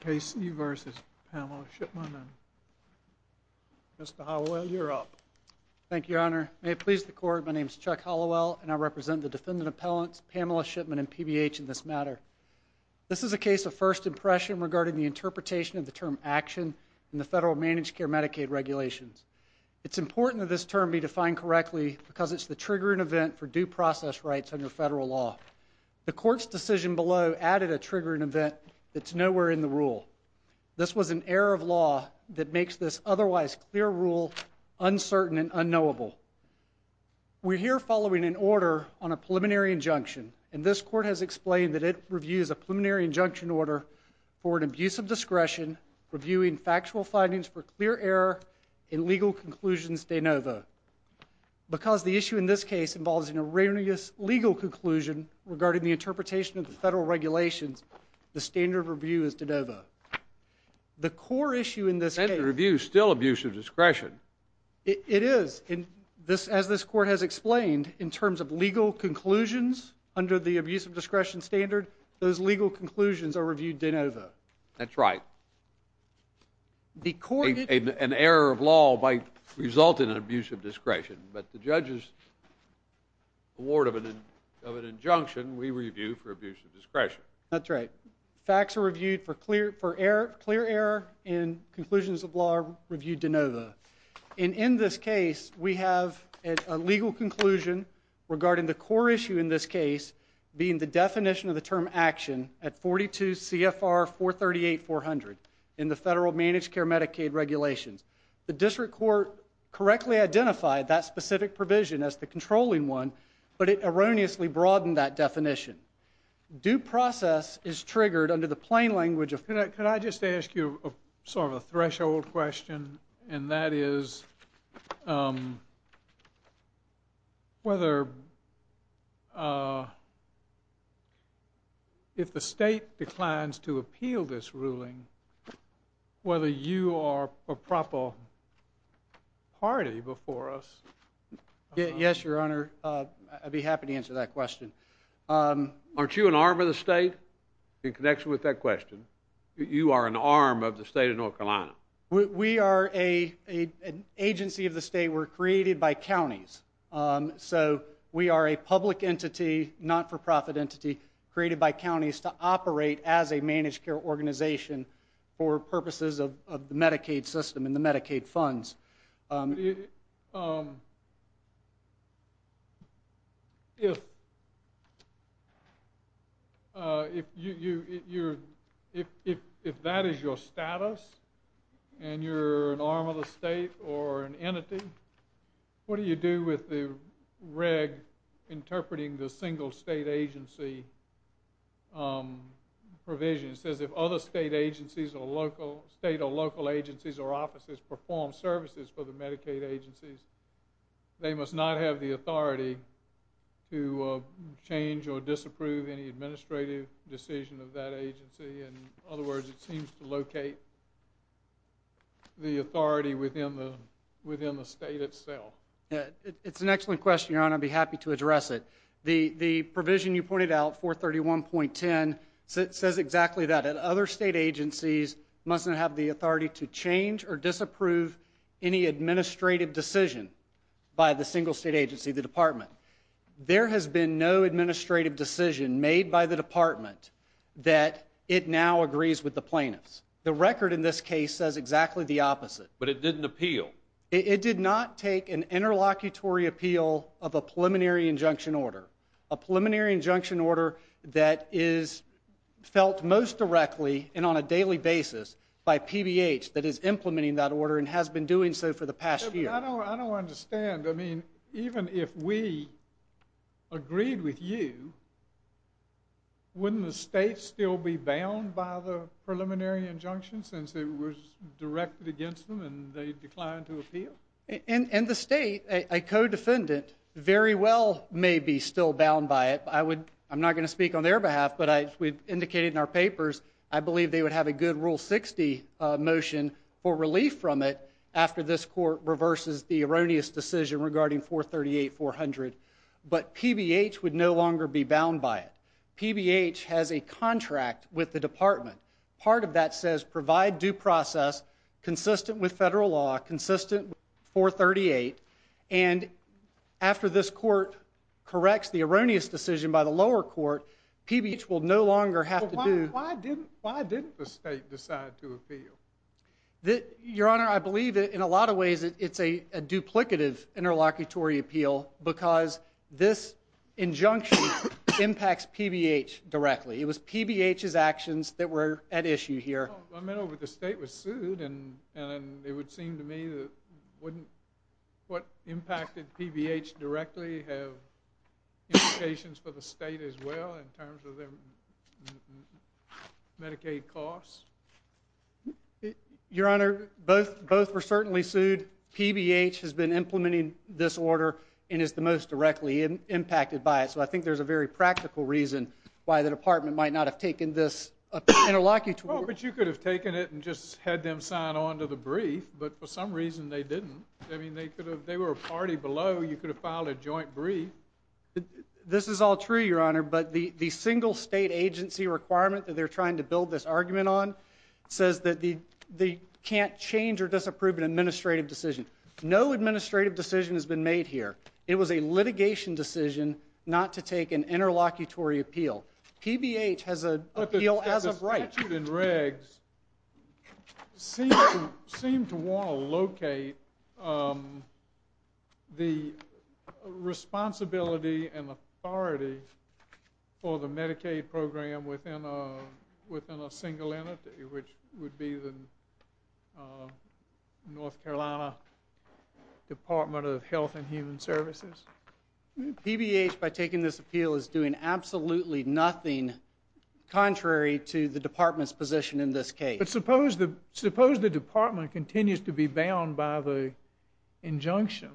K.C. v. Pamela Shipman Mr. Hallowell, you're up. Thank you, Your Honor. May it please the Court, my name is Chuck Hallowell, and I represent the Defendant Appellants Pamela Shipman and PBH in this matter. This is a case of first impression regarding the interpretation of the term action in the federal managed care Medicaid regulations. It's important that this term be defined correctly because it's the triggering event for due process rights under federal law. The Court's decision below added a triggering event that's nowhere in the rule. This was an error of law that makes this otherwise clear rule uncertain and unknowable. We're here following an order on a preliminary injunction, and this Court has explained that it reviews a preliminary injunction order for an abuse of discretion reviewing factual findings for clear error in legal conclusions de novo. Because the issue in this case involves an erroneous legal conclusion regarding the interpretation of the federal regulations, the standard of review is de novo. The core issue in this case— Standard of review is still abuse of discretion. It is. As this Court has explained, in terms of legal conclusions under the abuse of discretion standard, those legal conclusions are reviewed de novo. That's right. The Court— An error of law might result in an abuse of discretion, but the judge's award of an injunction we review for abuse of discretion. That's right. Facts are reviewed for clear error in conclusions of law reviewed de novo. And in this case, we have a legal conclusion regarding the core issue in this case being the definition of the term action at 42 CFR 438-400 in the federal managed care Medicaid regulations. The district court correctly identified that specific provision as the controlling one, but it erroneously broadened that definition. Due process is triggered under the plain language of— Could I just ask you sort of a threshold question, and that is whether if the state declines to appeal this ruling, whether you are a proper party before us? Yes, Your Honor. I'd be happy to answer that question. Aren't you an arm of the state in connection with that question? You are an arm of the state of North Carolina. We are an agency of the state. We're created by counties. So we are a public entity, not-for-profit entity, created by counties to operate as a managed care organization for purposes of the Medicaid system and the Medicaid funds. If that is your status and you're an arm of the state or an entity, what do you do with the reg interpreting the single state agency provision? It says if other state or local agencies or offices perform services for the Medicaid agencies, they must not have the authority to change or disapprove any administrative decision of that agency. In other words, it seems to locate the authority within the state itself. It's an excellent question, Your Honor. I'd be happy to address it. The provision you pointed out, 431.10, says exactly that. Other state agencies mustn't have the authority to change or disapprove any administrative decision by the single state agency, the department. There has been no administrative decision made by the department that it now agrees with the plaintiffs. The record in this case says exactly the opposite. But it didn't appeal. It did not take an interlocutory appeal of a preliminary injunction order, a preliminary injunction order that is felt most directly and on a daily basis by PBH that is implementing that order and has been doing so for the past year. I don't understand. I mean, even if we agreed with you, wouldn't the state still be bound by the preliminary injunction since it was directed against them and they declined to appeal? In the state, a co-defendant very well may be still bound by it. I'm not going to speak on their behalf, but we've indicated in our papers I believe they would have a good Rule 60 motion for relief from it after this court reverses the erroneous decision regarding 438.400. But PBH would no longer be bound by it. PBH has a contract with the department. Part of that says provide due process consistent with federal law, consistent with 438, and after this court corrects the erroneous decision by the lower court, PBH will no longer have to do. Why didn't the state decide to appeal? Your Honor, I believe in a lot of ways it's a duplicative interlocutory appeal because this injunction impacts PBH directly. It was PBH's actions that were at issue here. Well, I mean, the state was sued, and it would seem to me that wouldn't what impacted PBH directly have implications for the state as well in terms of their Medicaid costs? Your Honor, both were certainly sued. PBH has been implementing this order and is the most directly impacted by it, so I think there's a very practical reason why the department might not have taken this interlocutory. Well, but you could have taken it and just had them sign on to the brief, but for some reason they didn't. I mean, they were a party below. You could have filed a joint brief. This is all true, Your Honor, but the single state agency requirement that they're trying to build this argument on says that they can't change or disapprove an administrative decision. No administrative decision has been made here. It was a litigation decision not to take an interlocutory appeal. PBH has an appeal as of right. But the statute and regs seem to want to locate the responsibility and authority for the Medicaid program within a single entity, which would be the North Carolina Department of Health and Human Services. PBH, by taking this appeal, is doing absolutely nothing contrary to the department's position in this case. But suppose the department continues to be bound by the injunction,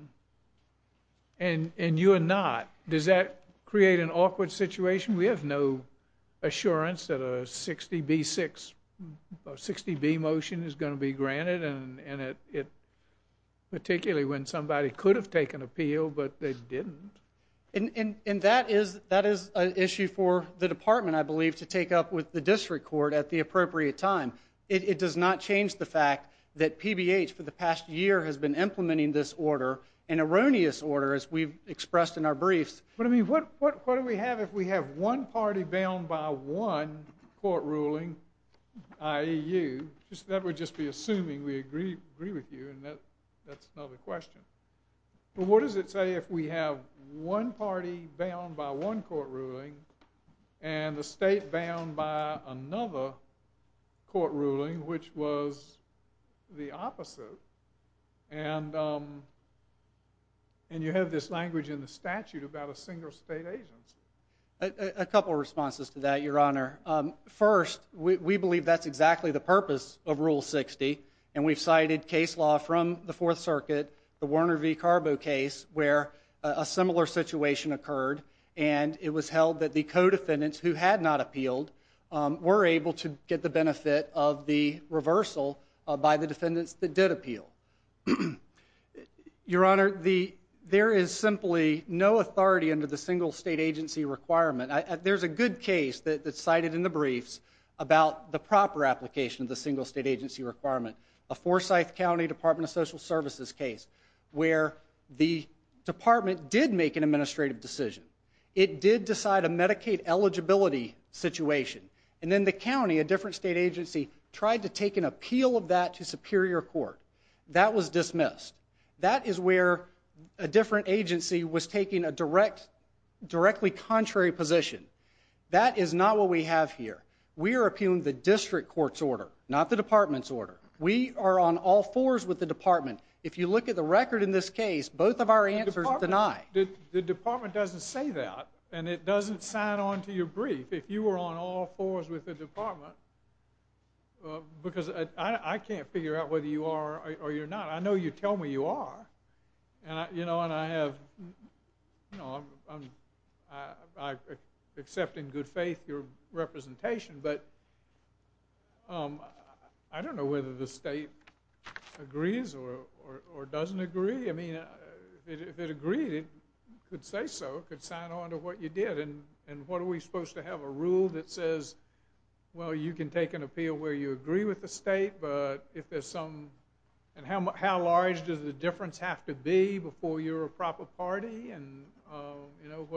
and you are not. Does that create an awkward situation? We have no assurance that a 60B motion is going to be granted, particularly when somebody could have taken appeal but they didn't. And that is an issue for the department, I believe, to take up with the district court at the appropriate time. It does not change the fact that PBH for the past year has been implementing this order, an erroneous order, as we've expressed in our briefs. But what do we have if we have one party bound by one court ruling, i.e. you? That would just be assuming we agree with you, and that's another question. But what does it say if we have one party bound by one court ruling and the state bound by another court ruling, which was the opposite? And you have this language in the statute about a single state agency. A couple of responses to that, Your Honor. First, we believe that's exactly the purpose of Rule 60, and we've cited case law from the Fourth Circuit, the Warner v. Carbo case, where a similar situation occurred, and it was held that the co-defendants who had not appealed were able to get the benefit of the reversal by the defendants that did appeal. Your Honor, there is simply no authority under the single state agency requirement. There's a good case that's cited in the briefs about the proper application of the single state agency requirement, a Forsyth County Department of Social Services case, where the department did make an administrative decision. It did decide a Medicaid eligibility situation, and then the county, a different state agency, tried to take an appeal of that to superior court. That was dismissed. That is where a different agency was taking a directly contrary position. That is not what we have here. We are appealing the district court's order, not the department's order. We are on all fours with the department. If you look at the record in this case, both of our answers deny. The department doesn't say that, and it doesn't sign on to your brief. If you were on all fours with the department, because I can't figure out whether you are or you're not. I know you tell me you are, and I have, you know, I accept in good faith your representation, but I don't know whether the state agrees or doesn't agree. I mean, if it agreed, it could say so. It could sign on to what you did, and what are we supposed to have, a rule that says, well, you can take an appeal where you agree with the state, but if there's some, and how large does the difference have to be before you're a proper party, and, you know,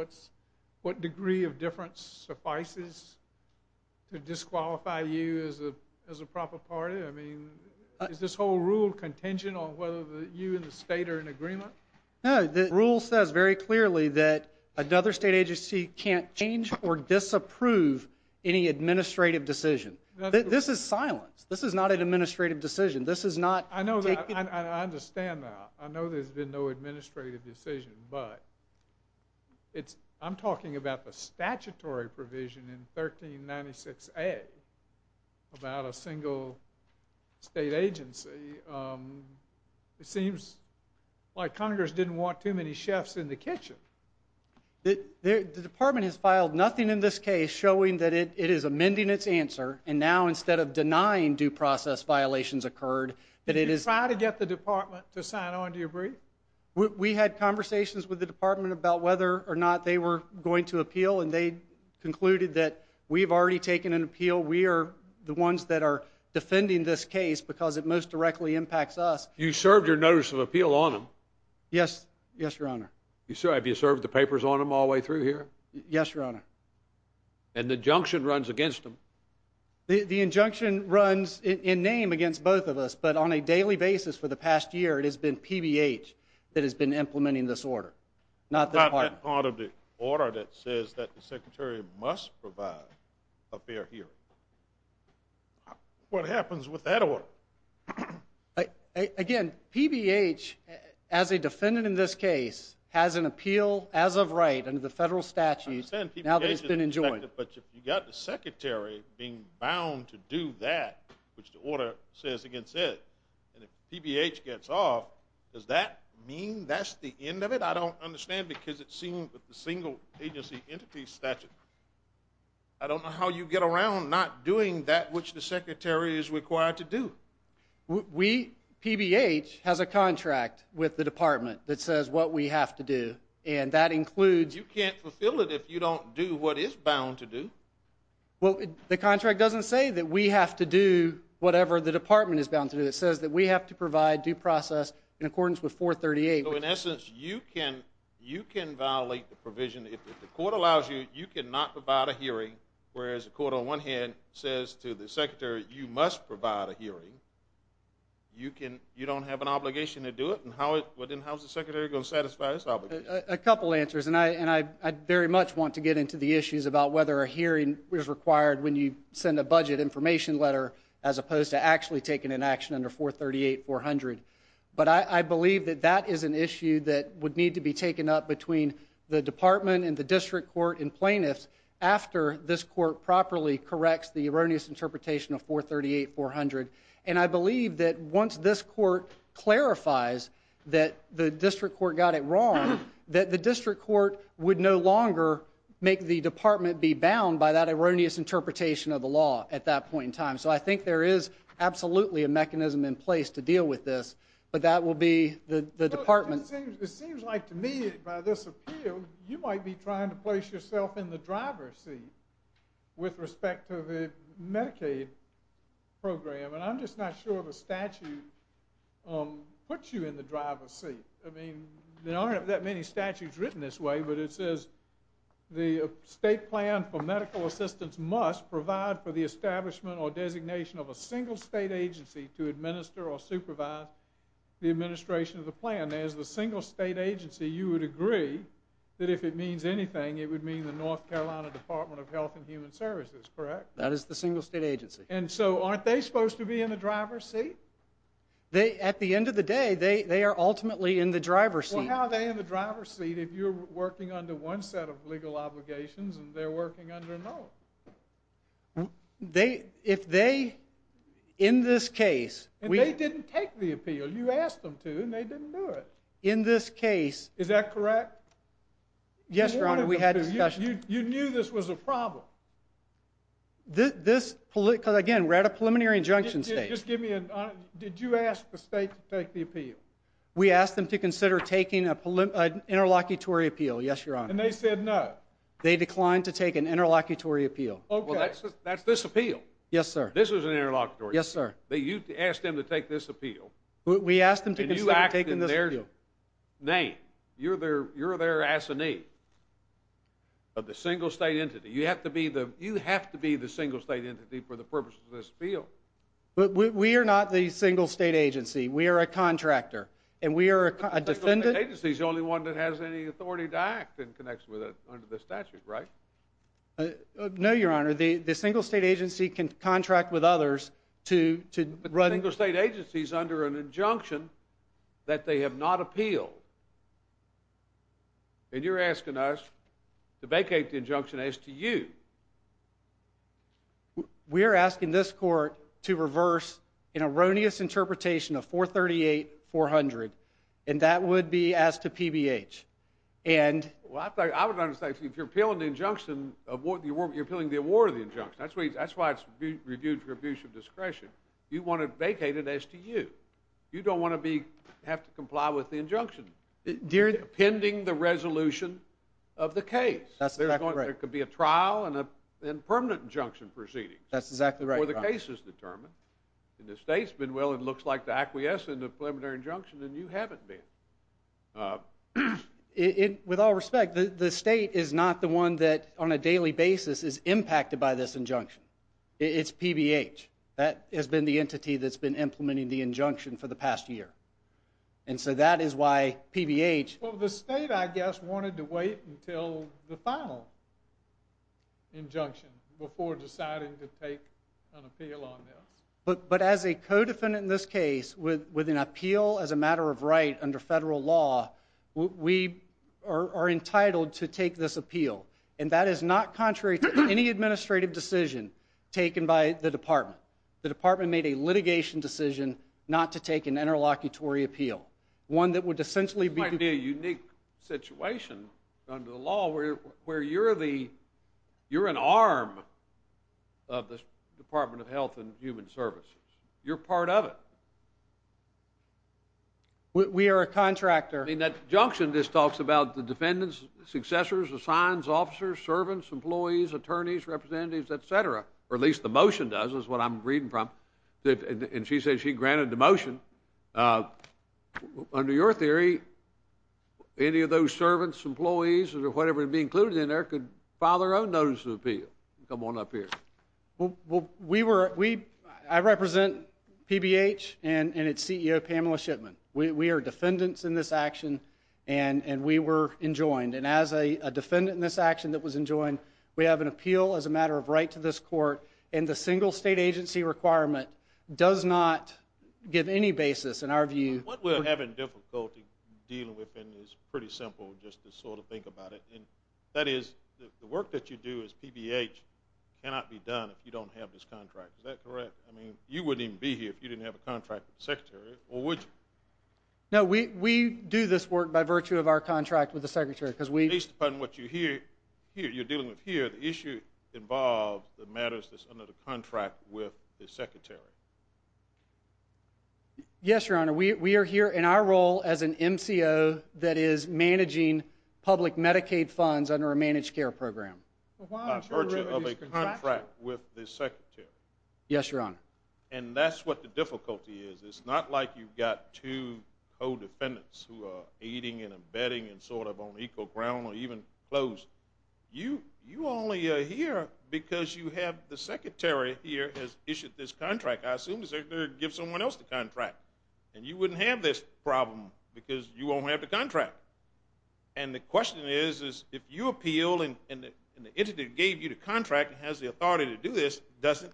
what degree of difference suffices to disqualify you as a proper party? I mean, is this whole rule contingent on whether you and the state are in agreement? No, the rule says very clearly that another state agency can't change or disapprove any administrative decision. This is silence. This is not an administrative decision. This is not taking – I understand that. I know there's been no administrative decision, but I'm talking about the statutory provision in 1396A about a single state agency. It seems like Congress didn't want too many chefs in the kitchen. The department has filed nothing in this case showing that it is amending its answer, and now instead of denying due process violations occurred, that it is – Did you try to get the department to sign on? Do you agree? We had conversations with the department about whether or not they were going to appeal, and they concluded that we've already taken an appeal. We are the ones that are defending this case because it most directly impacts us. You served your notice of appeal on them? Yes, Your Honor. Have you served the papers on them all the way through here? Yes, Your Honor. And the injunction runs against them? The injunction runs in name against both of us, but on a daily basis for the past year it has been PBH that has been implementing this order, not the department. Is that part of the order that says that the secretary must provide a fair hearing? What happens with that order? Again, PBH, as a defendant in this case, has an appeal as of right under the federal statutes now that it's been enjoined. But you've got the secretary being bound to do that, which the order says against it, and if PBH gets off, does that mean that's the end of it? I don't understand because it's seen with the single agency entity statute. I don't know how you get around not doing that which the secretary is required to do. We, PBH, has a contract with the department that says what we have to do, and that includes You can't fulfill it if you don't do what it's bound to do. Well, the contract doesn't say that we have to do whatever the department is bound to do. It says that we have to provide due process in accordance with 438. So in essence, you can violate the provision. If the court allows you, you cannot provide a hearing, whereas the court on one hand says to the secretary you must provide a hearing. You don't have an obligation to do it. Then how is the secretary going to satisfy this obligation? A couple answers, and I very much want to get into the issues about whether a hearing is required when you send a budget information letter as opposed to actually taking an action under 438-400. But I believe that that is an issue that would need to be taken up between the department and the district court and plaintiffs after this court properly corrects the erroneous interpretation of 438-400. And I believe that once this court clarifies that the district court got it wrong, that the district court would no longer make the department be bound by that erroneous interpretation of the law at that point in time. So I think there is absolutely a mechanism in place to deal with this, but that will be the department. It seems like to me by this appeal, you might be trying to place yourself in the driver's seat with respect to the Medicaid program. And I'm just not sure the statute puts you in the driver's seat. I mean, there aren't that many statutes written this way, but it says the state plan for medical assistance must provide for the establishment or designation of a single state agency to administer or supervise the administration of the plan. As the single state agency, you would agree that if it means anything, it would mean the North Carolina Department of Health and Human Services, correct? That is the single state agency. And so aren't they supposed to be in the driver's seat? At the end of the day, they are ultimately in the driver's seat. Well, how are they in the driver's seat if you're working under one set of legal obligations and they're working under another? If they, in this case... And they didn't take the appeal. You asked them to, and they didn't do it. In this case... Is that correct? Yes, Your Honor. We had a discussion. You knew this was a problem. This, because again, we're at a preliminary injunction stage. Just give me a... Did you ask the state to take the appeal? We asked them to consider taking an interlocutory appeal, yes, Your Honor. And they said no? They declined to take an interlocutory appeal. Okay. Well, that's this appeal. Yes, sir. This is an interlocutory appeal. Yes, sir. You asked them to take this appeal. We asked them to consider taking this appeal. And you act in their name. You're their assignee of the single state entity. You have to be the single state entity for the purpose of this appeal. But we are not the single state agency. We are a contractor, and we are a defendant. The single state agency is the only one that has any authority to act in connection with it under the statute, right? No, Your Honor. The single state agency can contract with others to run... The single state agency is under an injunction that they have not appealed. And you're asking us to vacate the injunction as to you. We are asking this court to reverse an erroneous interpretation of 438-400, and that would be as to PBH. Well, I would understand, if you're appealing the injunction, you're appealing the award of the injunction. That's why it's reviewed for abuse of discretion. You want it vacated as to you. You don't want to have to comply with the injunction pending the resolution of the case. That's exactly right. There could be a trial and permanent injunction proceedings. That's exactly right, Your Honor. Where the case is determined. And the state's been, well, it looks like, the acquiescent of preliminary injunction, and you haven't been. With all respect, the state is not the one that, on a daily basis, is impacted by this injunction. It's PBH. That has been the entity that's been implementing the injunction for the past year. And so that is why PBH... Well, the state, I guess, wanted to wait until the final injunction before deciding to take an appeal on this. But as a co-defendant in this case, with an appeal as a matter of right under federal law, we are entitled to take this appeal. And that is not contrary to any administrative decision taken by the department. The department made a litigation decision not to take an interlocutory appeal, one that would essentially be... It would be a unique situation under the law where you're an arm of the Department of Health and Human Services. You're part of it. We are a contractor. In that injunction, this talks about the defendants, successors, assigns, officers, servants, employees, attorneys, representatives, etc. Or at least the motion does, is what I'm reading from. And she says she granted the motion. Under your theory, any of those servants, employees, or whatever would be included in there could file their own notice of appeal. Come on up here. Well, we were... I represent PBH and its CEO, Pamela Shipman. We are defendants in this action, and we were enjoined. And as a defendant in this action that was enjoined, we have an appeal as a matter of right to this court. And the single state agency requirement does not give any basis, in our view. What we're having difficulty dealing with is pretty simple, just to sort of think about it. And that is the work that you do as PBH cannot be done if you don't have this contract. Is that correct? I mean, you wouldn't even be here if you didn't have a contract with the secretary, or would you? No, we do this work by virtue of our contract with the secretary because we... Based upon what you're dealing with here, the issue involves the matters that's under the contract with the secretary. Yes, Your Honor. We are here in our role as an MCO that is managing public Medicaid funds under a managed care program. By virtue of a contract with the secretary. Yes, Your Honor. And that's what the difficulty is. It's not like you've got two co-defendants who are aiding and abetting and sort of on equal ground or even close. You only are here because you have the secretary here has issued this contract. I assume the secretary gives someone else the contract. And you wouldn't have this problem because you won't have the contract. And the question is, if you appeal and the entity that gave you the contract has the authority to do this, doesn't...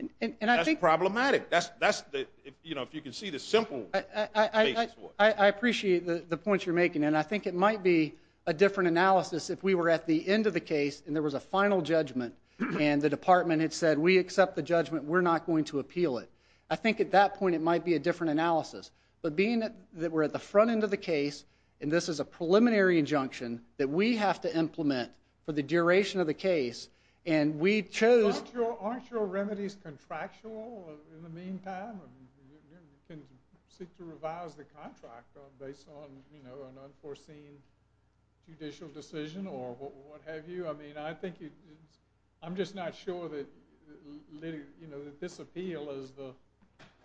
And I think... If you can see the simple... I appreciate the points you're making. And I think it might be a different analysis if we were at the end of the case and there was a final judgment and the department had said, we accept the judgment, we're not going to appeal it. I think at that point it might be a different analysis. But being that we're at the front end of the case and this is a preliminary injunction that we have to implement for the duration of the case and we chose... Well, in the meantime, you can seek to revise the contract based on, you know, an unforeseen judicial decision or what have you. I mean, I think you... I'm just not sure that this appeal is the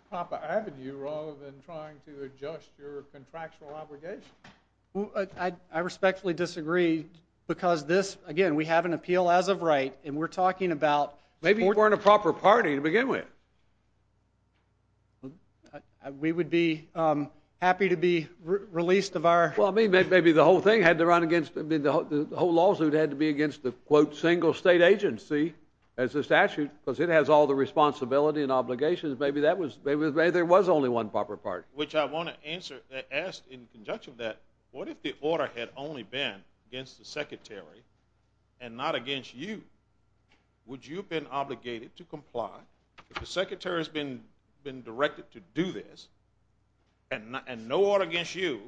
proper avenue rather than trying to adjust your contractual obligation. I respectfully disagree because this... Again, we have an appeal as of right and we're talking about... Maybe you weren't a proper party to begin with. We would be happy to be released of our... Well, I mean, maybe the whole thing had to run against... I mean, the whole lawsuit had to be against the, quote, single state agency as a statute because it has all the responsibility and obligations. Maybe that was... Maybe there was only one proper party. Which I want to answer... Ask in conjunction of that, what if the order had only been against the secretary and not against you? Would you have been obligated to comply? If the secretary has been directed to do this and no order against you,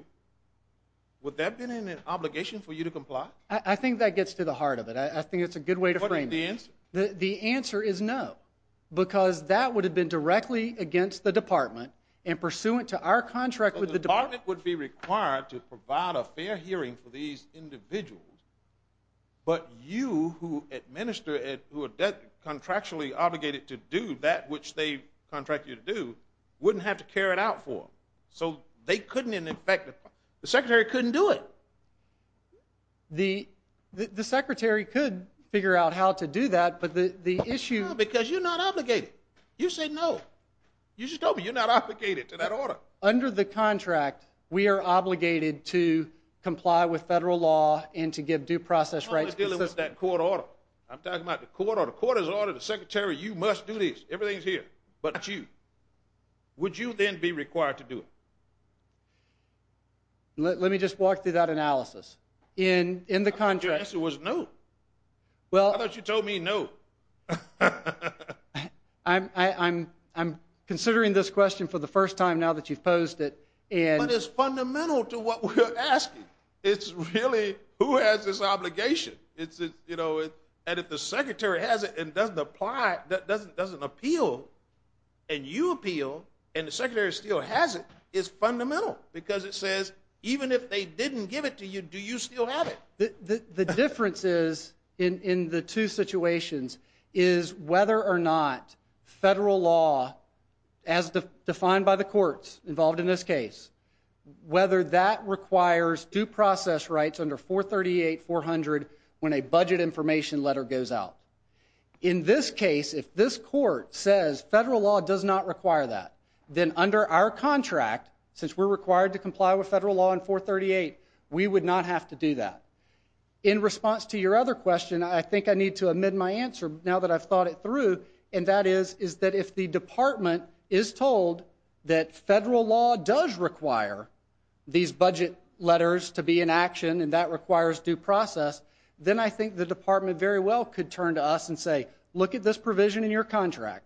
would that have been an obligation for you to comply? I think that gets to the heart of it. I think it's a good way to frame it. What is the answer? The answer is no because that would have been directly against the department and pursuant to our contract with the department... Well, the department would be required to provide a fair hearing for these individuals, but you who administer it, who are contractually obligated to do that, which they contract you to do, wouldn't have to carry it out for them. So they couldn't in effect... The secretary couldn't do it. The secretary could figure out how to do that, but the issue... No, because you're not obligated. You said no. You just told me you're not obligated to that order. Under the contract, we are obligated to comply with federal law and to give due process rights... I'm not dealing with that court order. I'm talking about the court order. The court has ordered the secretary, you must do this. Everything is here but you. Would you then be required to do it? Let me just walk through that analysis. In the contract... I thought your answer was no. I thought you told me no. I'm considering this question for the first time now that you've posed it. But it's fundamental to what we're asking. It's really who has this obligation. And if the secretary has it and doesn't appeal, and you appeal, and the secretary still has it, it's fundamental because it says, even if they didn't give it to you, do you still have it? The difference is, in the two situations, is whether or not federal law, as defined by the courts involved in this case, whether that requires due process rights under 438-400 when a budget information letter goes out. In this case, if this court says federal law does not require that, then under our contract, since we're required to comply with federal law under 438, we would not have to do that. In response to your other question, I think I need to admit my answer now that I've thought it through, and that is that if the department is told that federal law does require these budget letters to be in action and that requires due process, then I think the department very well could turn to us and say, look at this provision in your contract.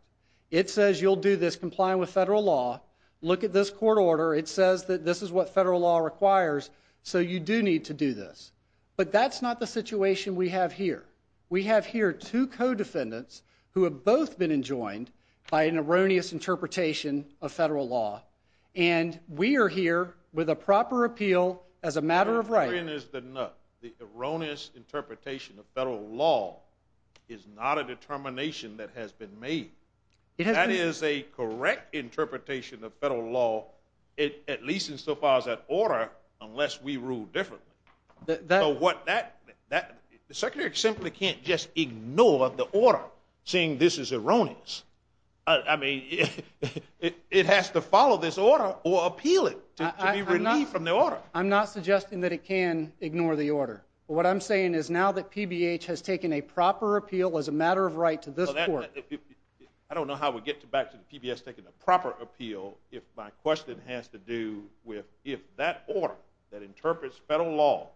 It says you'll do this, comply with federal law. Look at this court order. It says that this is what federal law requires, so you do need to do this. But that's not the situation we have here. We have here two co-defendants who have both been enjoined by an erroneous interpretation of federal law, and we are here with a proper appeal as a matter of right. The erroneous interpretation of federal law is not a determination that has been made. That is a correct interpretation of federal law, at least insofar as that order, unless we rule differently. The Secretary simply can't just ignore the order, saying this is erroneous. I mean, it has to follow this order or appeal it to be relieved from the order. I'm not suggesting that it can ignore the order. What I'm saying is now that PBH has taken a proper appeal as a matter of right to this court. I don't know how we get back to the PBS taking a proper appeal if my question has to do with if that order that interprets federal law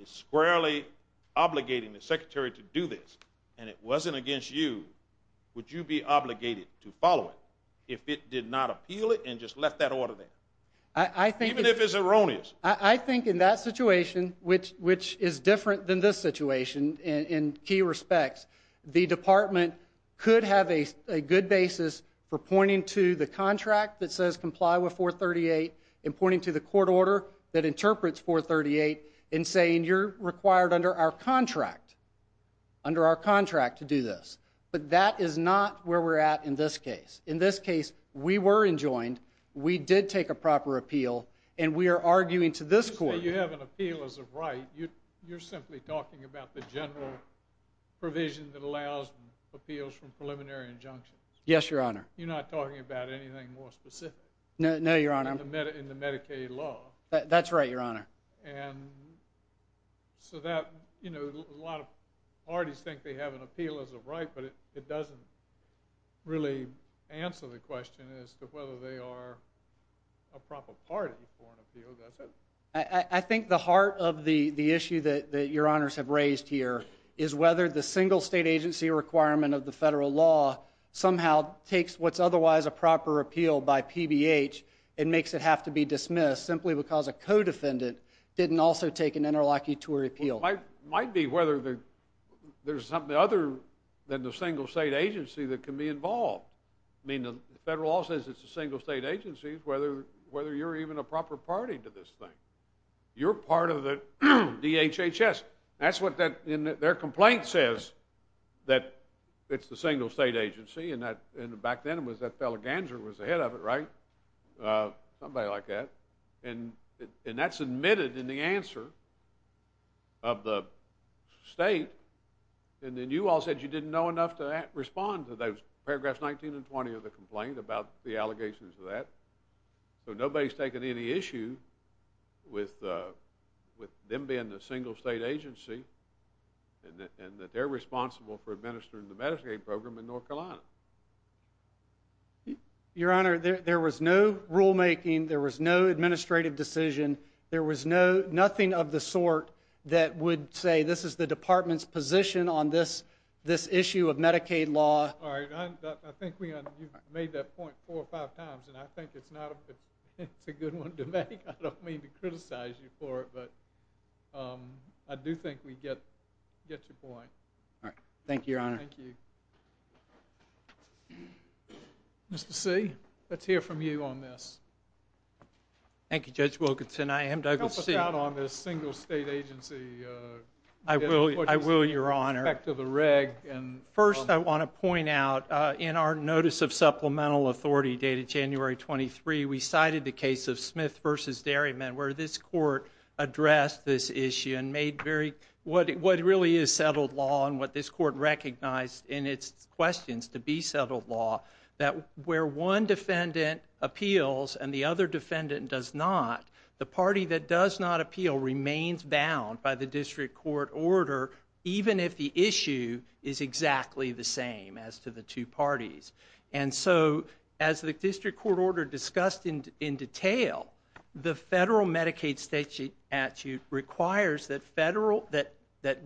is squarely obligating the Secretary to do this and it wasn't against you, would you be obligated to follow it if it did not appeal it and just left that order there, even if it's erroneous? I think in that situation, which is different than this situation in key respects, the department could have a good basis for pointing to the contract that says comply with 438 and pointing to the court order that interprets 438 and saying you're required under our contract to do this. But that is not where we're at in this case. In this case, we were enjoined, we did take a proper appeal, and we are arguing to this court. You say you have an appeal as a right. You're simply talking about the general provision that allows appeals from preliminary injunctions. Yes, Your Honor. You're not talking about anything more specific. No, Your Honor. In the Medicaid law. That's right, Your Honor. A lot of parties think they have an appeal as a right, but it doesn't really answer the question as to whether they are a proper party for an appeal, does it? I think the heart of the issue that Your Honors have raised here is whether the single state agency requirement of the federal law somehow takes what's otherwise a proper appeal by PBH and makes it have to be dismissed simply because a co-defendant didn't also take an interlocutory appeal. It might be whether there's something other than the single state agency that can be involved. I mean, the federal law says it's a single state agency, whether you're even a proper party to this thing. You're part of the DHHS. That's what their complaint says, that it's the single state agency, and back then it was that fellow Ganser was the head of it, right? Somebody like that. And that's admitted in the answer of the state, and then you all said you didn't know enough to respond to those paragraphs 19 and 20 of the complaint about the allegations of that. So nobody's taken any issue with them being the single state agency and that they're responsible for administering the Medicaid program in North Carolina. Your Honor, there was no rulemaking. There was no administrative decision. There was nothing of the sort that would say this is the department's position on this issue of Medicaid law. I think you've made that point four or five times, and I think it's a good one to make. I don't mean to criticize you for it, but I do think we get your point. Thank you, Your Honor. Thank you. Mr. C., let's hear from you on this. Thank you, Judge Wilkinson. I am Douglas C. Help us out on this single state agency. I will, Your Honor. Back to the reg. First, I want to point out in our notice of supplemental authority dated January 23, we cited the case of Smith v. Derryman where this court addressed this issue and made what really is settled law and what this court recognized in its questions to be settled law, that where one defendant appeals and the other defendant does not, the party that does not appeal remains bound by the district court order even if the issue is exactly the same as to the two parties. And so as the district court order discussed in detail, the federal Medicaid statute requires that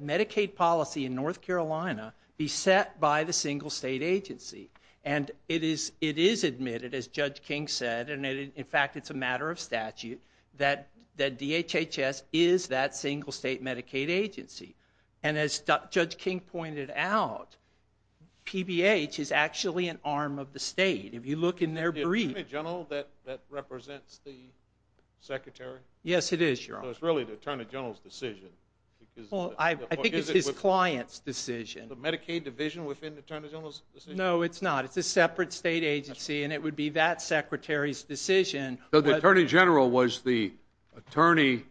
Medicaid policy in North Carolina be set by the single state agency. And it is admitted, as Judge King said, and in fact it's a matter of statute, that DHHS is that single state Medicaid agency. And as Judge King pointed out, PBH is actually an arm of the state. If you look in their brief. Is it the attorney general that represents the secretary? Yes, it is, Your Honor. So it's really the attorney general's decision. I think it's his client's decision. The Medicaid division within the attorney general's decision? No, it's not. It's a separate state agency, and it would be that secretary's decision. So the attorney general was the attorney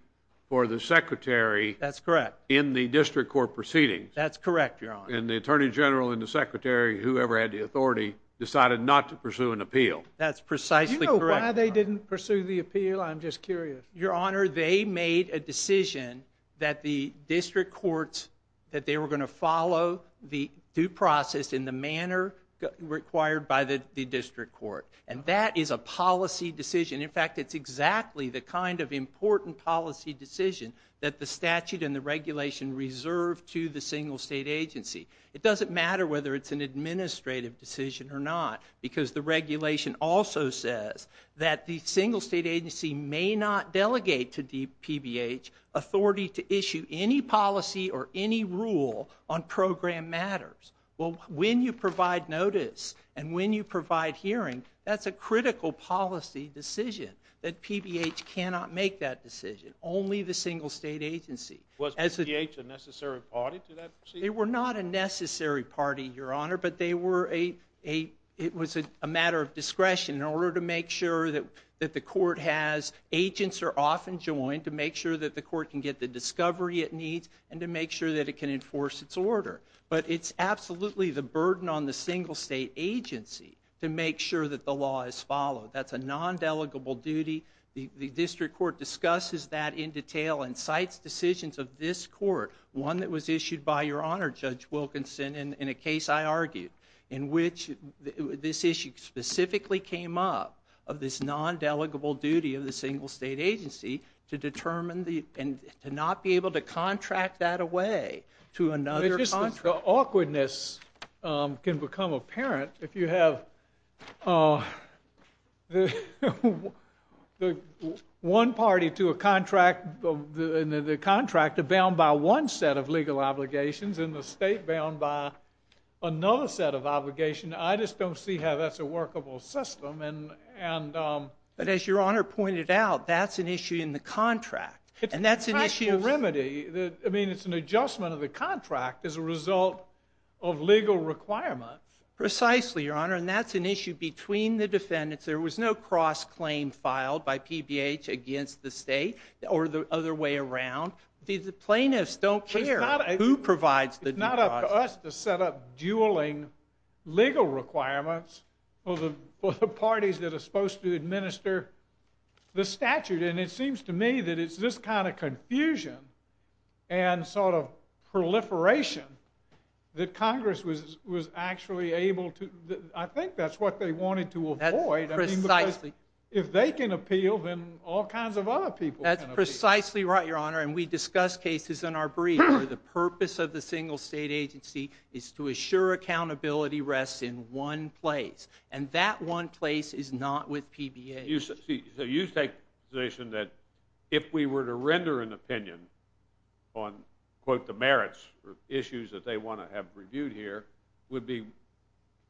for the secretary. That's correct. In the district court proceedings. That's correct, Your Honor. And the attorney general and the secretary, whoever had the authority, decided not to pursue an appeal. That's precisely correct. Do you know why they didn't pursue the appeal? I'm just curious. Your Honor, they made a decision that the district courts, that they were going to follow the due process in the manner required by the district court. And that is a policy decision. In fact, it's exactly the kind of important policy decision that the statute and the regulation reserve to the single state agency. It doesn't matter whether it's an administrative decision or not, because the regulation also says that the single state agency may not delegate to the PBH authority to issue any policy or any rule on program matters. Well, when you provide notice and when you provide hearing, that's a critical policy decision, that PBH cannot make that decision, only the single state agency. Was PBH a necessary party to that? They were not a necessary party, Your Honor, but they were a, it was a matter of discretion in order to make sure that the court has, agents are often joined to make sure that the court can get the discovery it needs and to make sure that it can enforce its order. But it's absolutely the burden on the single state agency to make sure that the law is followed. That's a non-delegable duty. The district court discusses that in detail and cites decisions of this court, one that was issued by Your Honor, Judge Wilkinson, in a case I argued, in which this issue specifically came up of this non-delegable duty of the single state agency to determine the, and to not be able to contract that away to another contract. It's just the awkwardness can become apparent if you have one party to a contract, the contractor bound by one set of legal obligations and the state bound by another set of obligation. I just don't see how that's a workable system. But as Your Honor pointed out, that's an issue in the contract. It's a practical remedy. I mean, it's an adjustment of the contract as a result of legal requirements. Precisely, Your Honor. And that's an issue between the defendants. There was no cross-claim filed by PBH against the state or the other way around. The plaintiffs don't care who provides the. It's not up to us to set up dueling legal requirements for the parties to administer the statute. And it seems to me that it's this kind of confusion and sort of proliferation that Congress was, was actually able to, I think that's what they wanted to avoid. If they can appeal, then all kinds of other people. That's precisely right, Your Honor. And we discussed cases in our brief where the purpose of the single state agency is to assure accountability rests in one place. And that one place is not with PBH. So you take the position that if we were to render an opinion on, quote, the merits or issues that they want to have reviewed here, would be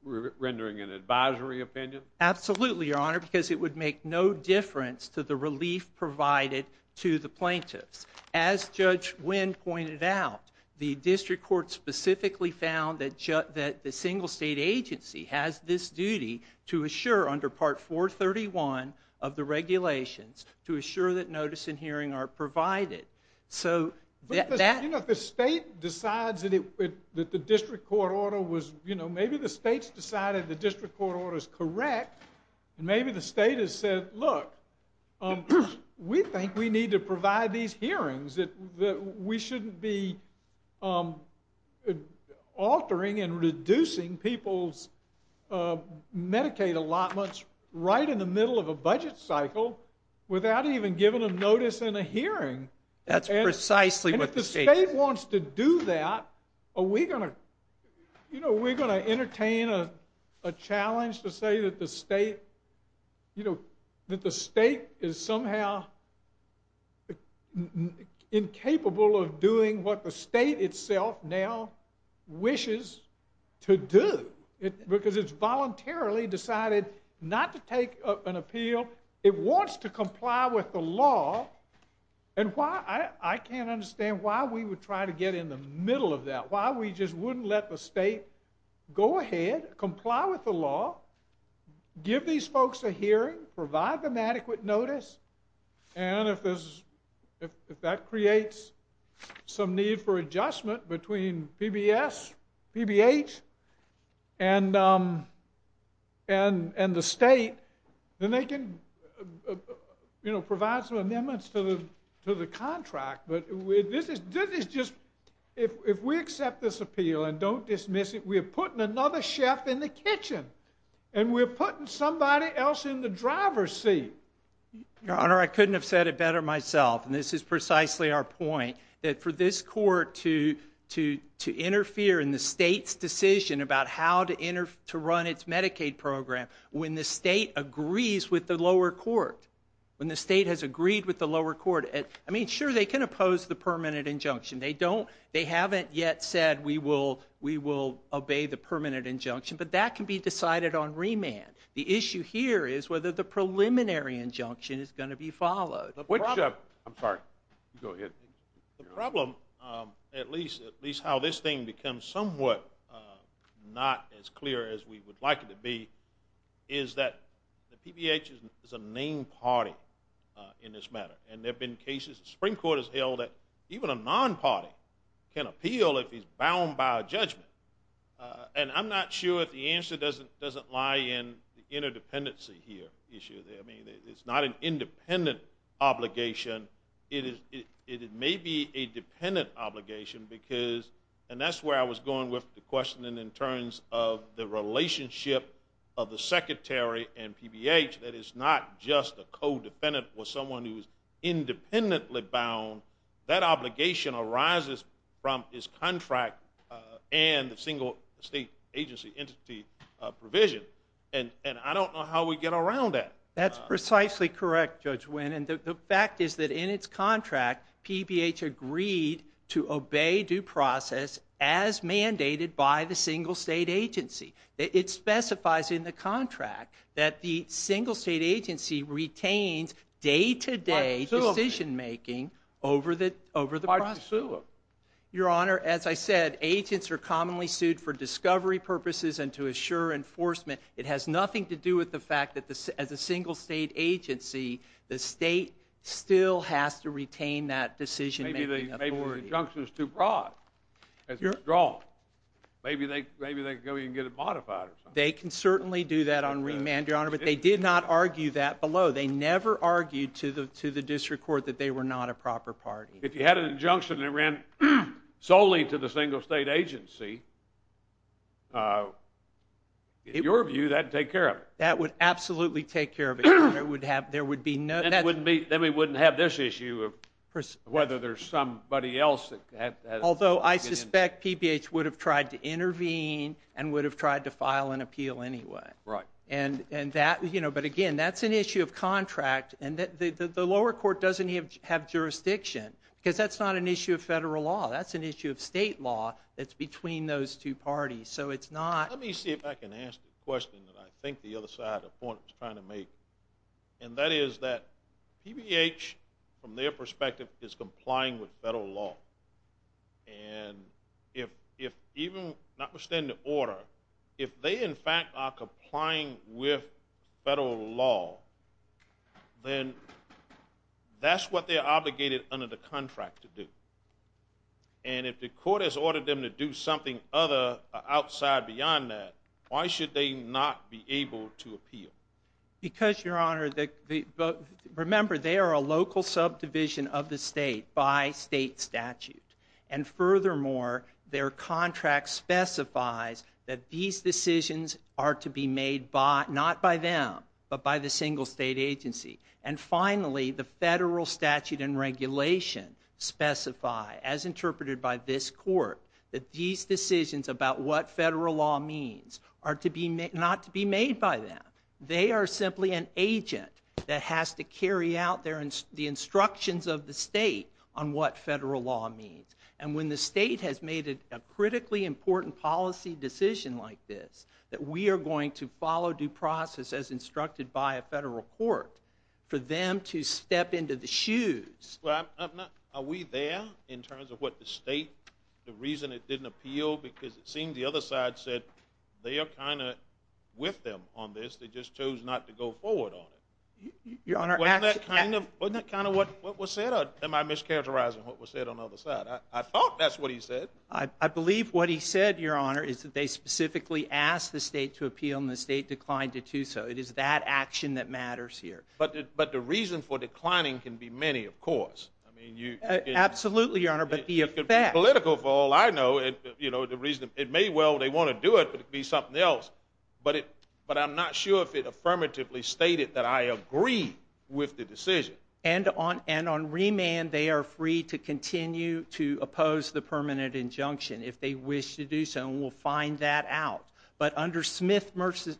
rendering an advisory opinion? Absolutely, Your Honor, because it would make no difference to the relief provided to the plaintiffs. As Judge Wynn pointed out, the district court specifically found that the single state agency has this duty to assure under Part 431 of the regulations, to assure that notice and hearing are provided. So that. You know, if the state decides that the district court order was, you know, maybe the state's decided the district court order is correct. And maybe the state has said, look, we think we need to provide these hearings that we shouldn't be altering and reducing people's Medicaid allotments right in the middle of a budget cycle without even giving them notice in a hearing. That's precisely what the state. And if the state wants to do that, are we going to, you know, we're going to entertain a challenge to say that the state, you know, that the state is somehow incapable of doing what the state itself now wishes to do because it's voluntarily decided not to take an appeal. It wants to comply with the law. And why I can't understand why we would try to get in the middle of that, why we just wouldn't let the state go ahead, comply with the law, give these folks a hearing, provide them adequate notice. And if that creates some need for adjustment between PBS, PBH, and the state, then they can, you know, provide some amendments to the contract. But this is just, if we accept this appeal and don't dismiss it, we are putting another chef in the kitchen. And we're putting somebody else in the driver's seat. Your Honor, I couldn't have said it better myself. And this is precisely our point that for this court to, to, to interfere in the state's decision about how to enter, to run its Medicaid program. When the state agrees with the lower court, when the state has agreed with the lower court, I mean, sure they can oppose the permanent injunction. They don't, they haven't yet said, we will, we will obey the permanent injunction, but that can be decided on remand. The issue here is whether the preliminary injunction is going to be followed. I'm sorry. Go ahead. The problem, at least, at least how this thing becomes somewhat not as clear as we would like it to be, is that the PBH is a named party in this matter. And there've been cases, the Supreme Court has held that even a non-party can appeal if he's bound by a judgment. And I'm not sure if the answer doesn't, doesn't lie in the interdependency here issue. I mean, it's not an independent obligation. It is, it may be a dependent obligation because, and that's where I was going with the question in terms of the relationship of the secretary and PBH, that it's not just a co-defendant or someone who's independently bound. That obligation arises from his contract and the single state agency entity provision. And I don't know how we get around that. That's precisely correct, Judge Wynn. And the fact is that in its contract, PBH agreed to obey due process as mandated by the single state agency. It specifies in the contract that the single state agency retains day-to-day decision-making over the, over the process. Your Honor, as I said, agents are commonly sued for discovery purposes and to assure enforcement. It has nothing to do with the fact that the, as a single state agency, the state still has to retain that decision. Maybe the, maybe the junction is too broad. Maybe they, maybe they can go and get it modified or something. They can certainly do that on remand, Your Honor, but they did not argue that below. They never argued to the, to the district court that they were not a proper party. If you had an injunction that ran solely to the single state agency, in your view, that'd take care of it. That would absolutely take care of it. Your Honor, it would have, there would be no, that wouldn't be, then we wouldn't have this issue of whether there's somebody else that has. Although I suspect PBH would have tried to intervene and would have tried to file an appeal anyway. Right. And, and that, you know, but again, that's an issue of contract and the lower court doesn't have jurisdiction because that's not an issue of federal law. That's an issue of state law that's between those two parties. So it's not. Let me see if I can ask the question that I think the other side of the point was trying to make. And that is that PBH, from their perspective, is complying with federal law. And if, if even notwithstanding the order, if they in fact are complying with federal law, then that's what they're obligated under the contract to do. And if the court has ordered them to do something other outside beyond that, why should they not be able to appeal? Because, Your Honor, the, remember they are a local subdivision of the state by state statute. And furthermore, their contract specifies that these decisions are to be made by, not by them, but by the single state agency. And finally, the federal statute and regulation specify, as interpreted by this court, that these decisions about what federal law means are to be made, not to be made by them. They are simply an agent that has to carry out their, the instructions of the state on what federal law means. And when the state has made a critically important policy decision like this, that we are going to follow due process as instructed by a federal court, for them to step into the shoes. Well, I'm not, are we there in terms of what the state, the reason it didn't appeal? Because it seemed the other side said, they are kind of with them on this. They just chose not to go forward on it. Your Honor, Wasn't that kind of, wasn't that kind of what was said? Am I mischaracterizing what was said on the other side? I thought that's what he said. I believe what he said, Your Honor, is that they specifically asked the state to appeal and the state declined to do so. It is that action that matters here. But, but the reason for declining can be many, of course. I mean, you absolutely, Your Honor, but the political fall, I know, you know, the reason it may well, they want to do it, but it'd be something else. But it, but I'm not sure if it affirmatively stated that I agree with the decision. And on, and on remand, they are free to continue to oppose the permanent injunction if they wish to do so. And we'll find that out. But under Smith versus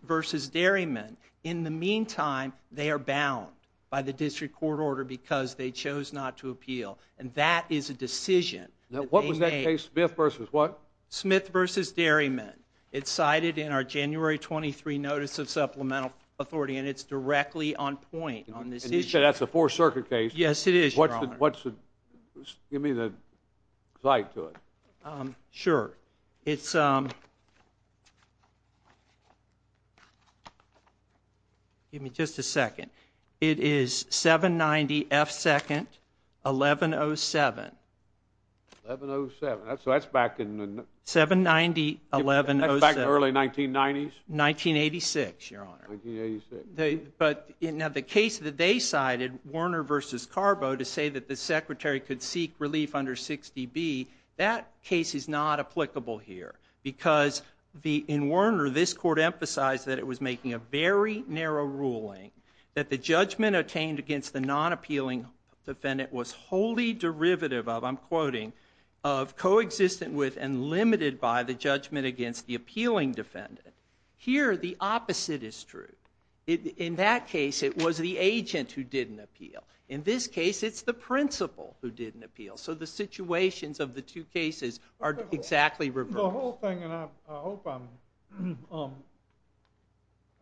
Derryman, in the meantime, they are bound by the district court order because they chose not to appeal. And that is a decision. Now, what was that case? Smith versus what? Smith versus Derryman. It's cited in our January 23 notice of supplemental authority, and it's directly on point on this issue. Okay. That's a four circuit case. Yes, it is. What's the, give me the slide to it. Sure. It's, um, give me just a second. It is seven 90 F second, 11, Oh, seven, 11, Oh, seven. That's, that's back in the seven 90, 11, back in the early 1990s, 1986, Your Honor. But in the case that they cited Warner versus Carbo to say that the secretary could seek relief under 60 B, that case is not applicable here because the, in Warner, this court emphasized that it was making a very narrow ruling that the judgment obtained against the non appealing defendant was wholly derivative of, I'm quoting of coexistent with and limited by the judgment against the appealing defendant. Here, the opposite is true. It, in that case, it was the agent who didn't appeal. In this case, it's the principal who didn't appeal. So the situations of the two cases are exactly reverse. The whole thing. And I hope I'm, um, um,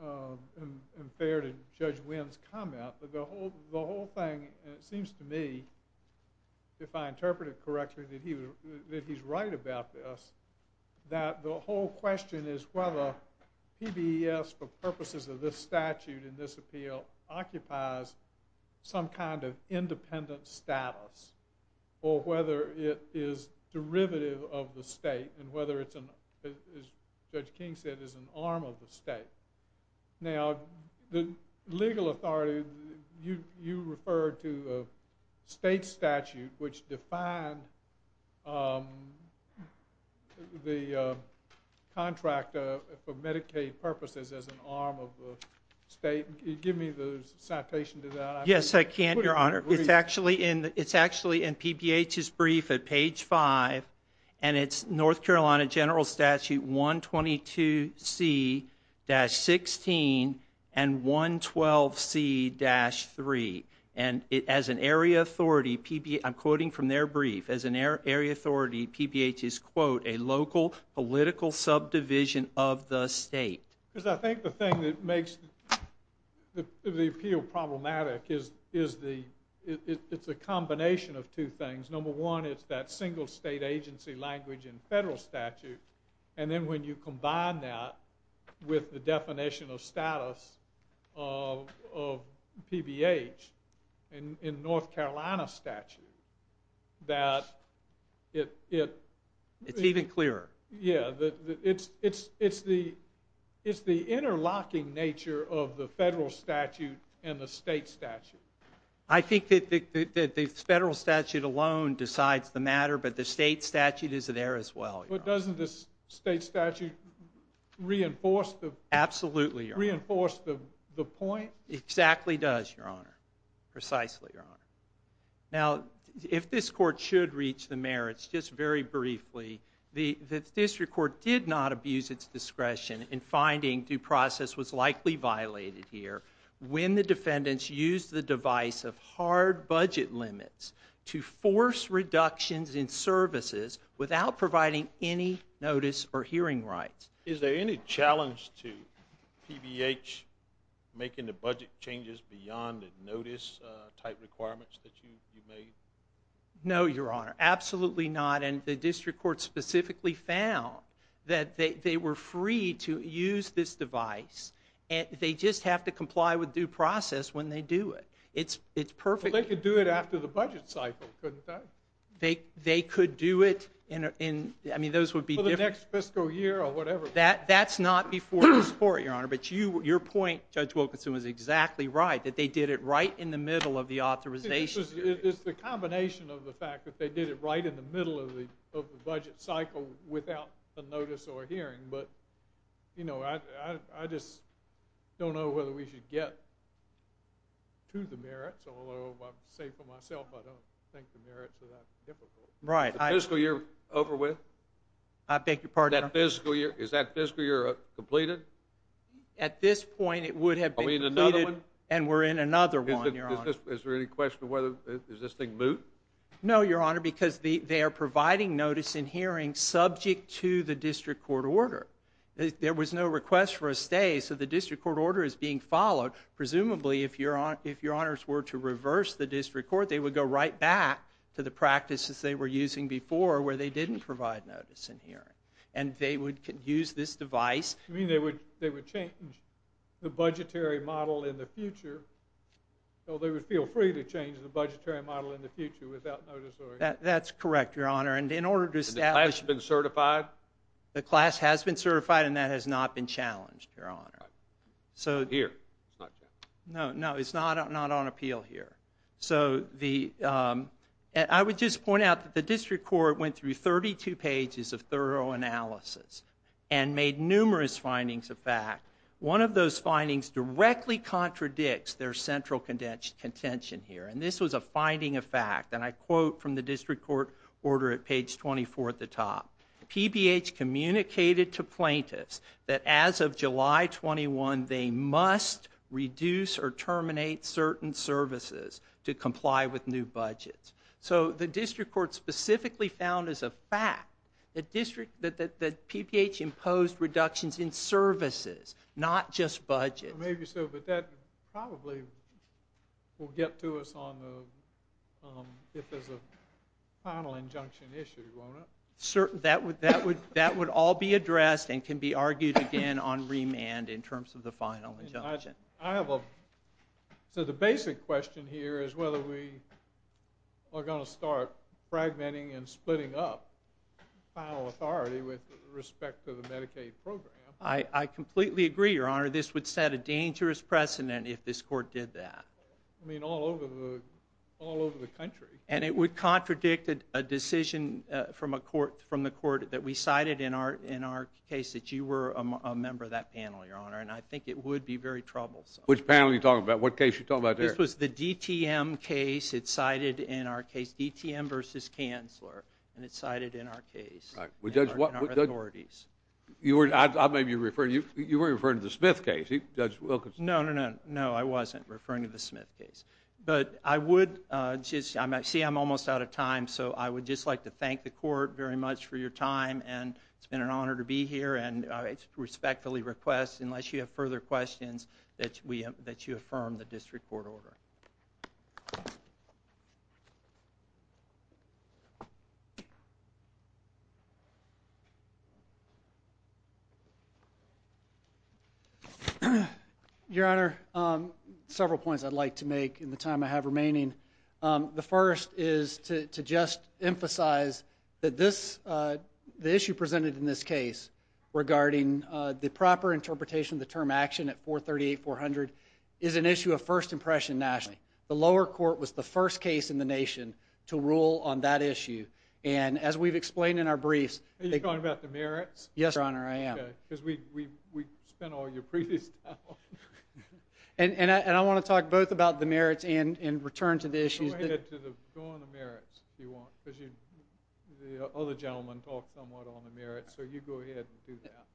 um, um, fair to judge wins comment, but the whole, the whole thing, and it seems to me, if I interpret it correctly, that he was, that he's right about this, that the whole question is whether he be, yes, for purposes of this statute in this appeal occupies some kind of independent status or whether it is derivative of the state and whether it's an, as judge King said, is an arm of the state. Now, the legal authority, you, you referred to a state statute which defined, um, the, uh, contract, uh, for Medicaid purposes as an arm of the state. Give me the citation to that. Yes, I can. Your honor. It's actually in, it's actually in PBH is brief at page five and it's North Carolina general statute one 22 C dash 16 and one 12 C dash three. And it, as an area authority, PB, I'm quoting from their brief as an air area authority. PBH is quote, a local political subdivision of the state. Cause I think the thing that makes the, the appeal problematic is, is the, it's a combination of two things. Number one, it's that single state agency language in federal statute. And then when you combine that with the definition of status of, of PBH and in North Carolina statute that it, it, it's even clearer. Yeah. It's, it's, it's the, it's the interlocking nature of the federal statute and the state statute. I think that the federal statute alone decides the matter, but the state statute is there as well. It doesn't, this state statute reinforced the absolutely reinforced the point. Exactly. Does your honor precisely. Your honor. Now, if this court should reach the mayor, it's just very briefly. The, the district court did not abuse its discretion in finding due process was likely violated here. When the defendants use the device of hard budget limits to force reductions in services without providing any notice or hearing rights. Is there any challenge to PBH making the budget changes beyond notice type requirements that you made? No, your honor. Absolutely not. And the district court specifically found that they, they were free to use this device and they just have to comply with due process when they do it. It's, it's perfect. They could do it after the budget cycle. Couldn't they? They, they could do it in, in, I mean, those would be different fiscal year or whatever that that's not before this court, your honor. But you, your point judge Wilkinson was exactly right that they did it right in the middle of the authorization. It's just, it's the combination of the fact that they did it right in the middle of the, of the budget cycle without a notice or hearing. But you know, I, I, I just don't know whether we should get to the merits, although I say for myself, I don't think the merits are that difficult. Right. Fiscal year over with. I beg your pardon. That fiscal year. Is that fiscal year completed at this point? It would have been another one. And we're in another one. Is there any question of whether is this thing boot? No, your honor, because the, they are providing notice in hearing subject to the district court order. There was no request for a stay. So the district court order is being followed. Presumably if you're on, if your honors were to reverse the district court, they would go right back to the practices they were using before where they didn't provide notice in here and they would use this device. I mean, they would, they would change the budgetary model in the future. So they would feel free to change the budgetary model in the future without notice. That's correct. Your honor. And in order to establish been certified, the class has been certified and that has not been challenged. Your honor. So here, no, no, it's not, not on appeal here. So the, um, and I would just point out that the district court went through 32 pages of thorough analysis and made numerous findings of fact. One of those findings directly contradicts their central contention contention here. And this was a finding of fact. And I quote from the district court order at page 24 at the top, PBH communicated to plaintiffs that as of July 21, they must reduce or terminate certain services to comply with new budgets. So the district court specifically found as a fact that district, that the PPH imposed reductions in services, not just budget. Maybe so, but that probably will get to us on the, um, if there's a final injunction issue, your honor. That would, that would, that would all be addressed and can be argued again on remand in terms of the final injunction. I have a, so the basic question here is whether we are going to start fragmenting and I completely agree, your honor. This would set a dangerous precedent if this court did that. I mean all over the, all over the country and it would contradict a decision from a court from the court that we cited in our, in our case that you were a member of that panel, your honor. And I think it would be very troublesome. Which panel are you talking about? What case you're talking about there? This was the DTM case. It's cited in our case, DTM versus counselor. And it's cited in our case. All right. Well, judge, you were, I'll maybe refer to you. You were referring to the Smith case. Judge Wilkins. No, no, no, no. I wasn't referring to the Smith case, but I would, uh, just, I'm actually, I'm almost out of time. So I would just like to thank the court very much for your time. And it's been an honor to be here. And I respectfully request, unless you have further questions that we, that you affirm the district court order. Okay. Your Honor, um, several points I'd like to make in the time I have remaining. Um, the first is to, to just emphasize that this, uh, the issue presented in this case regarding, uh, the proper interpretation of the term action at 438 400 is an issue of first impression nationally. The lower court was the first case in the nation to rule on that issue. And as we've explained in our briefs, are you talking about the merits? Yes, Your Honor. I am. Cause we, we, we spent all your previous. And, and I, and I want to talk both about the merits and, and return to the issues. Go on the merits if you want, cause you, the other gentleman talked somewhat on the merits. So you go ahead and do that.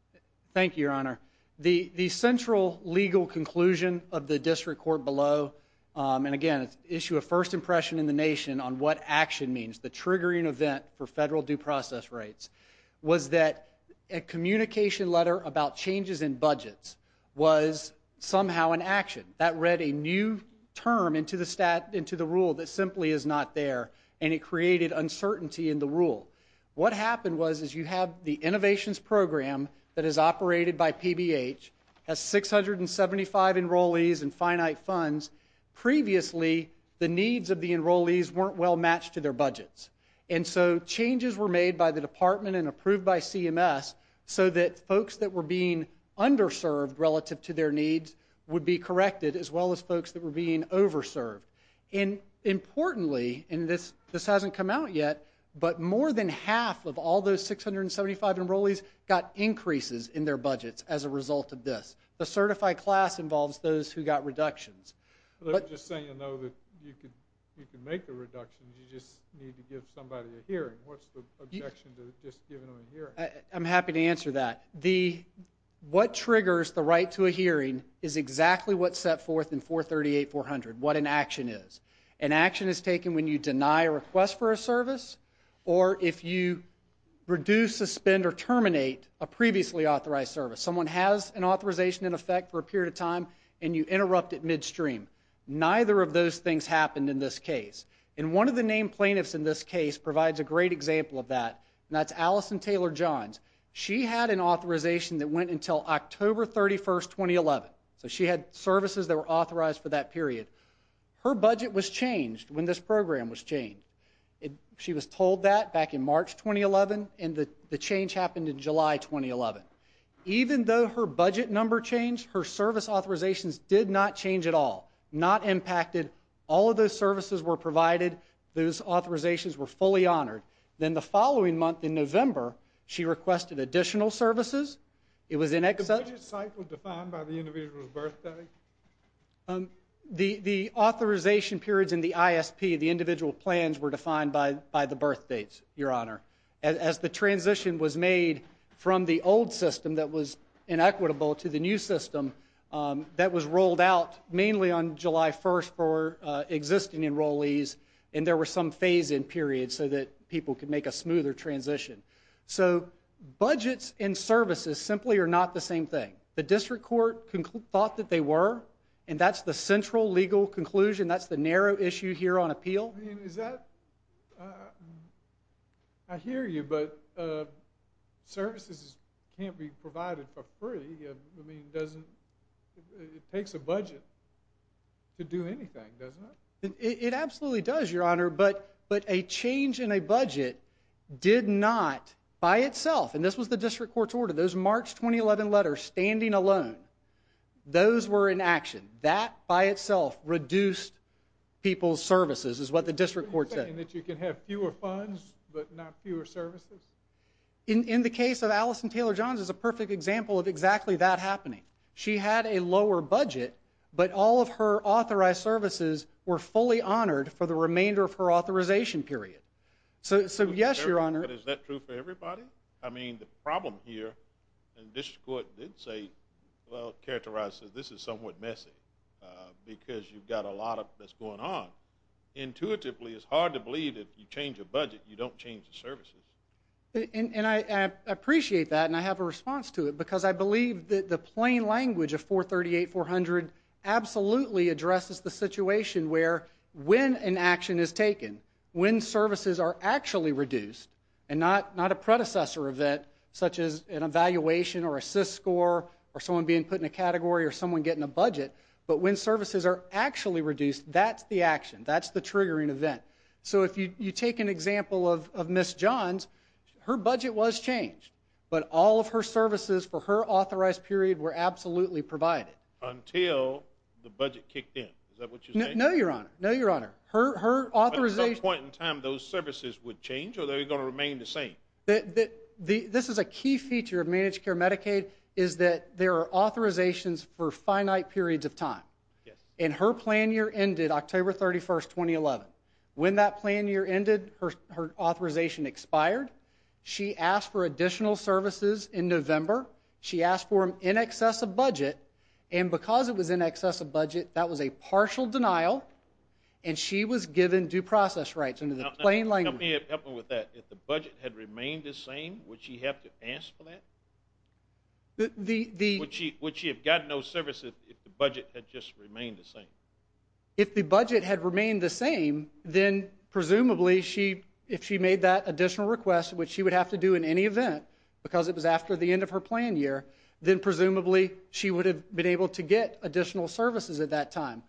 Thank you, Your Honor. The, the, the central legal conclusion of the district court below. Um, and again, it's issue of first impression in the nation on what action means. The triggering event for federal due process rates was that a communication letter about changes in budgets was somehow an action that read a new term into the stat, into the rule that simply is not there. And it created uncertainty in the rule. What happened was is you have the innovations program that is operated by PBH has 675 enrollees and finite funds. Previously, the needs of the enrollees weren't well matched to their budgets. And so changes were made by the department and approved by CMS so that folks that were being underserved relative to their needs would be corrected as well as folks that were being over served. And importantly, and this, this hasn't come out yet, but more than half of all those 675 enrollees got increases in their budgets as a result of this. The certified class involves those who got reductions. Let me just say, you know, that you could, you can make a reduction. You just need to give somebody a hearing. What's the objection to just giving them a hearing? I'm happy to answer that. The, what triggers the right to a hearing is exactly what's set forth in 438 400. What an action is. An action is taken when you deny a request for a service, or if you reduce, suspend or terminate a previously authorized service, someone has an authorization in effect for a period of time and you interrupt at midstream. Neither of those things happened in this case. And one of the name plaintiffs in this case provides a great example of that. And that's Alison Taylor Johns. She had an authorization that went until October 31st, 2011. So she had services that were authorized for that period. Her budget was changed when this program was changed. It, she was told that back in March, 2011 and the, the change happened in July, 2011. Even though her budget number changed, her service authorizations did not change at all. Not impacted. All of those services were provided. Those authorizations were fully honored. Then the following month in November, she requested additional services. The budget cycle defined by the individual's birthday? Um, the, the authorization periods in the ISP, the individual plans were defined by, by the birth dates, your honor. As the transition was made from the old system that was inequitable to the new system, um, that was rolled out mainly on July 1st for, uh, existing enrollees. And there were some phase in period so that people could make a smoother transition. So budgets and services simply are not the same thing. The district court thought that they were, and that's the central legal conclusion. That's the narrow issue here on appeal. Is that, uh, I hear you, but, uh, services can't be provided for free. I mean, it doesn't, it takes a budget to do anything, doesn't it? It absolutely does your honor. But, but a change in a budget did not, by itself. And this was the district court's order. Those March, 2011 letters standing alone. Those were in action that by itself reduced people's services is what the district court said that you can have fewer funds, but not fewer services. In, in the case of Alison Taylor Johns is a perfect example of exactly that happening. She had a lower budget, but all of her authorized services were fully honored for the remainder of her authorization period. So, so yes, your honor. Is that true for everybody? I mean, the problem here, and this court did say, well, characterizes, this is somewhat messy, uh, because you've got a lot of that's going on. Intuitively. It's hard to believe that you change a budget, you don't change the services. And I, I appreciate that. And I have a response to it because I believe that the plain language of four 38, 400 absolutely addresses the situation where when an action is taken, when services are actually reduced and not, not a predecessor of that, such as an evaluation or assist score or someone being put in a category or someone getting a budget, but when services are actually reduced, that's the action, that's the triggering event. So if you, you take an example of, of Ms. Johns, her budget was changed, but all of her services for her authorized period were absolutely provided until the budget kicked in. Is that what you know? No, your honor. No, your honor. Her, her authorization point in time, those services would change or they're going to remain the same. The, the, this is a key feature of managed care. Medicaid is that there are authorizations for finite periods of time. Yes. And her plan year ended October 31st, 2011. When that plan year ended, her, her authorization expired. She asked for additional services in November. She asked for him in excess of budget. And because it was in excess of budget, that was a partial denial. And she was given due process rights under the plain language. Help me with that. If the budget had remained the same, would she have to ask for that? The, the. Would she, would she have gotten those services if the budget had just remained the same? If the budget had remained the same, then presumably she, if she made that additional request, which she would have to do in any event because it was after the end of her plan year, then presumably she would have been able to get additional services at that time.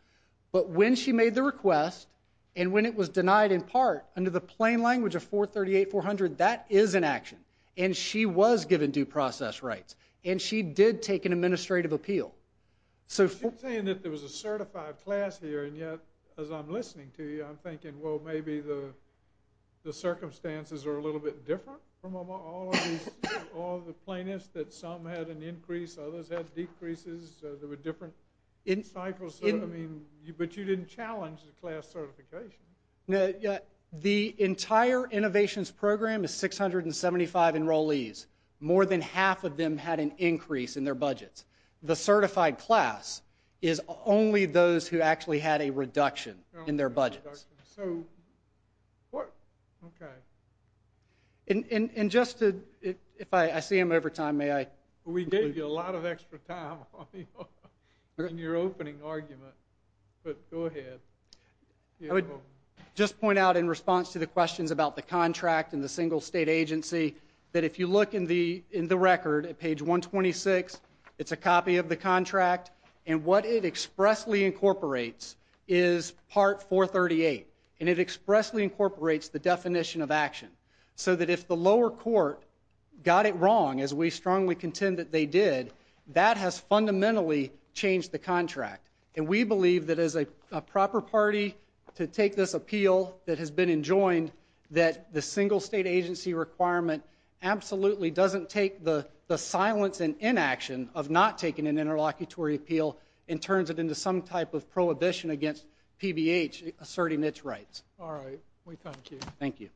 But when she made the request and when it was denied in part under the plain language of 438-400, that is an action. And she was given due process rights. And she did take an administrative appeal. So. Saying that there was a certified class here. And yet, as I'm listening to you, I'm thinking, well, maybe the, the circumstances are a little bit different from all of these, all of the plaintiffs that some had an increase, others had decreases. There were different in cycles. I mean, you, but you didn't challenge the class certification. Yeah. The entire innovations program is 675 enrollees. More than half of them had an increase in their budgets. The certified class is only those who actually had a reduction in their budgets. So. What? Okay. And, and, and just to, if I, I see him over time, may I, we gave you a lot of extra time in your opening argument, but go ahead. I would just point out in response to the questions about the contract and the single state agency, that if you look in the, in the record at page one 26, it's a copy of the contract and what it expressly incorporates is part 438. And it expressly incorporates the definition of action. So that if the lower court got it wrong, as we strongly contend that they did, that has fundamentally changed the contract. And we believe that as a proper party to take this appeal that has been enjoined, that the single state agency requirement absolutely doesn't take the, the silence and inaction of not taking an interlocutory appeal and turns it into some type of prohibition against PBH asserting its rights. All right. Thank you.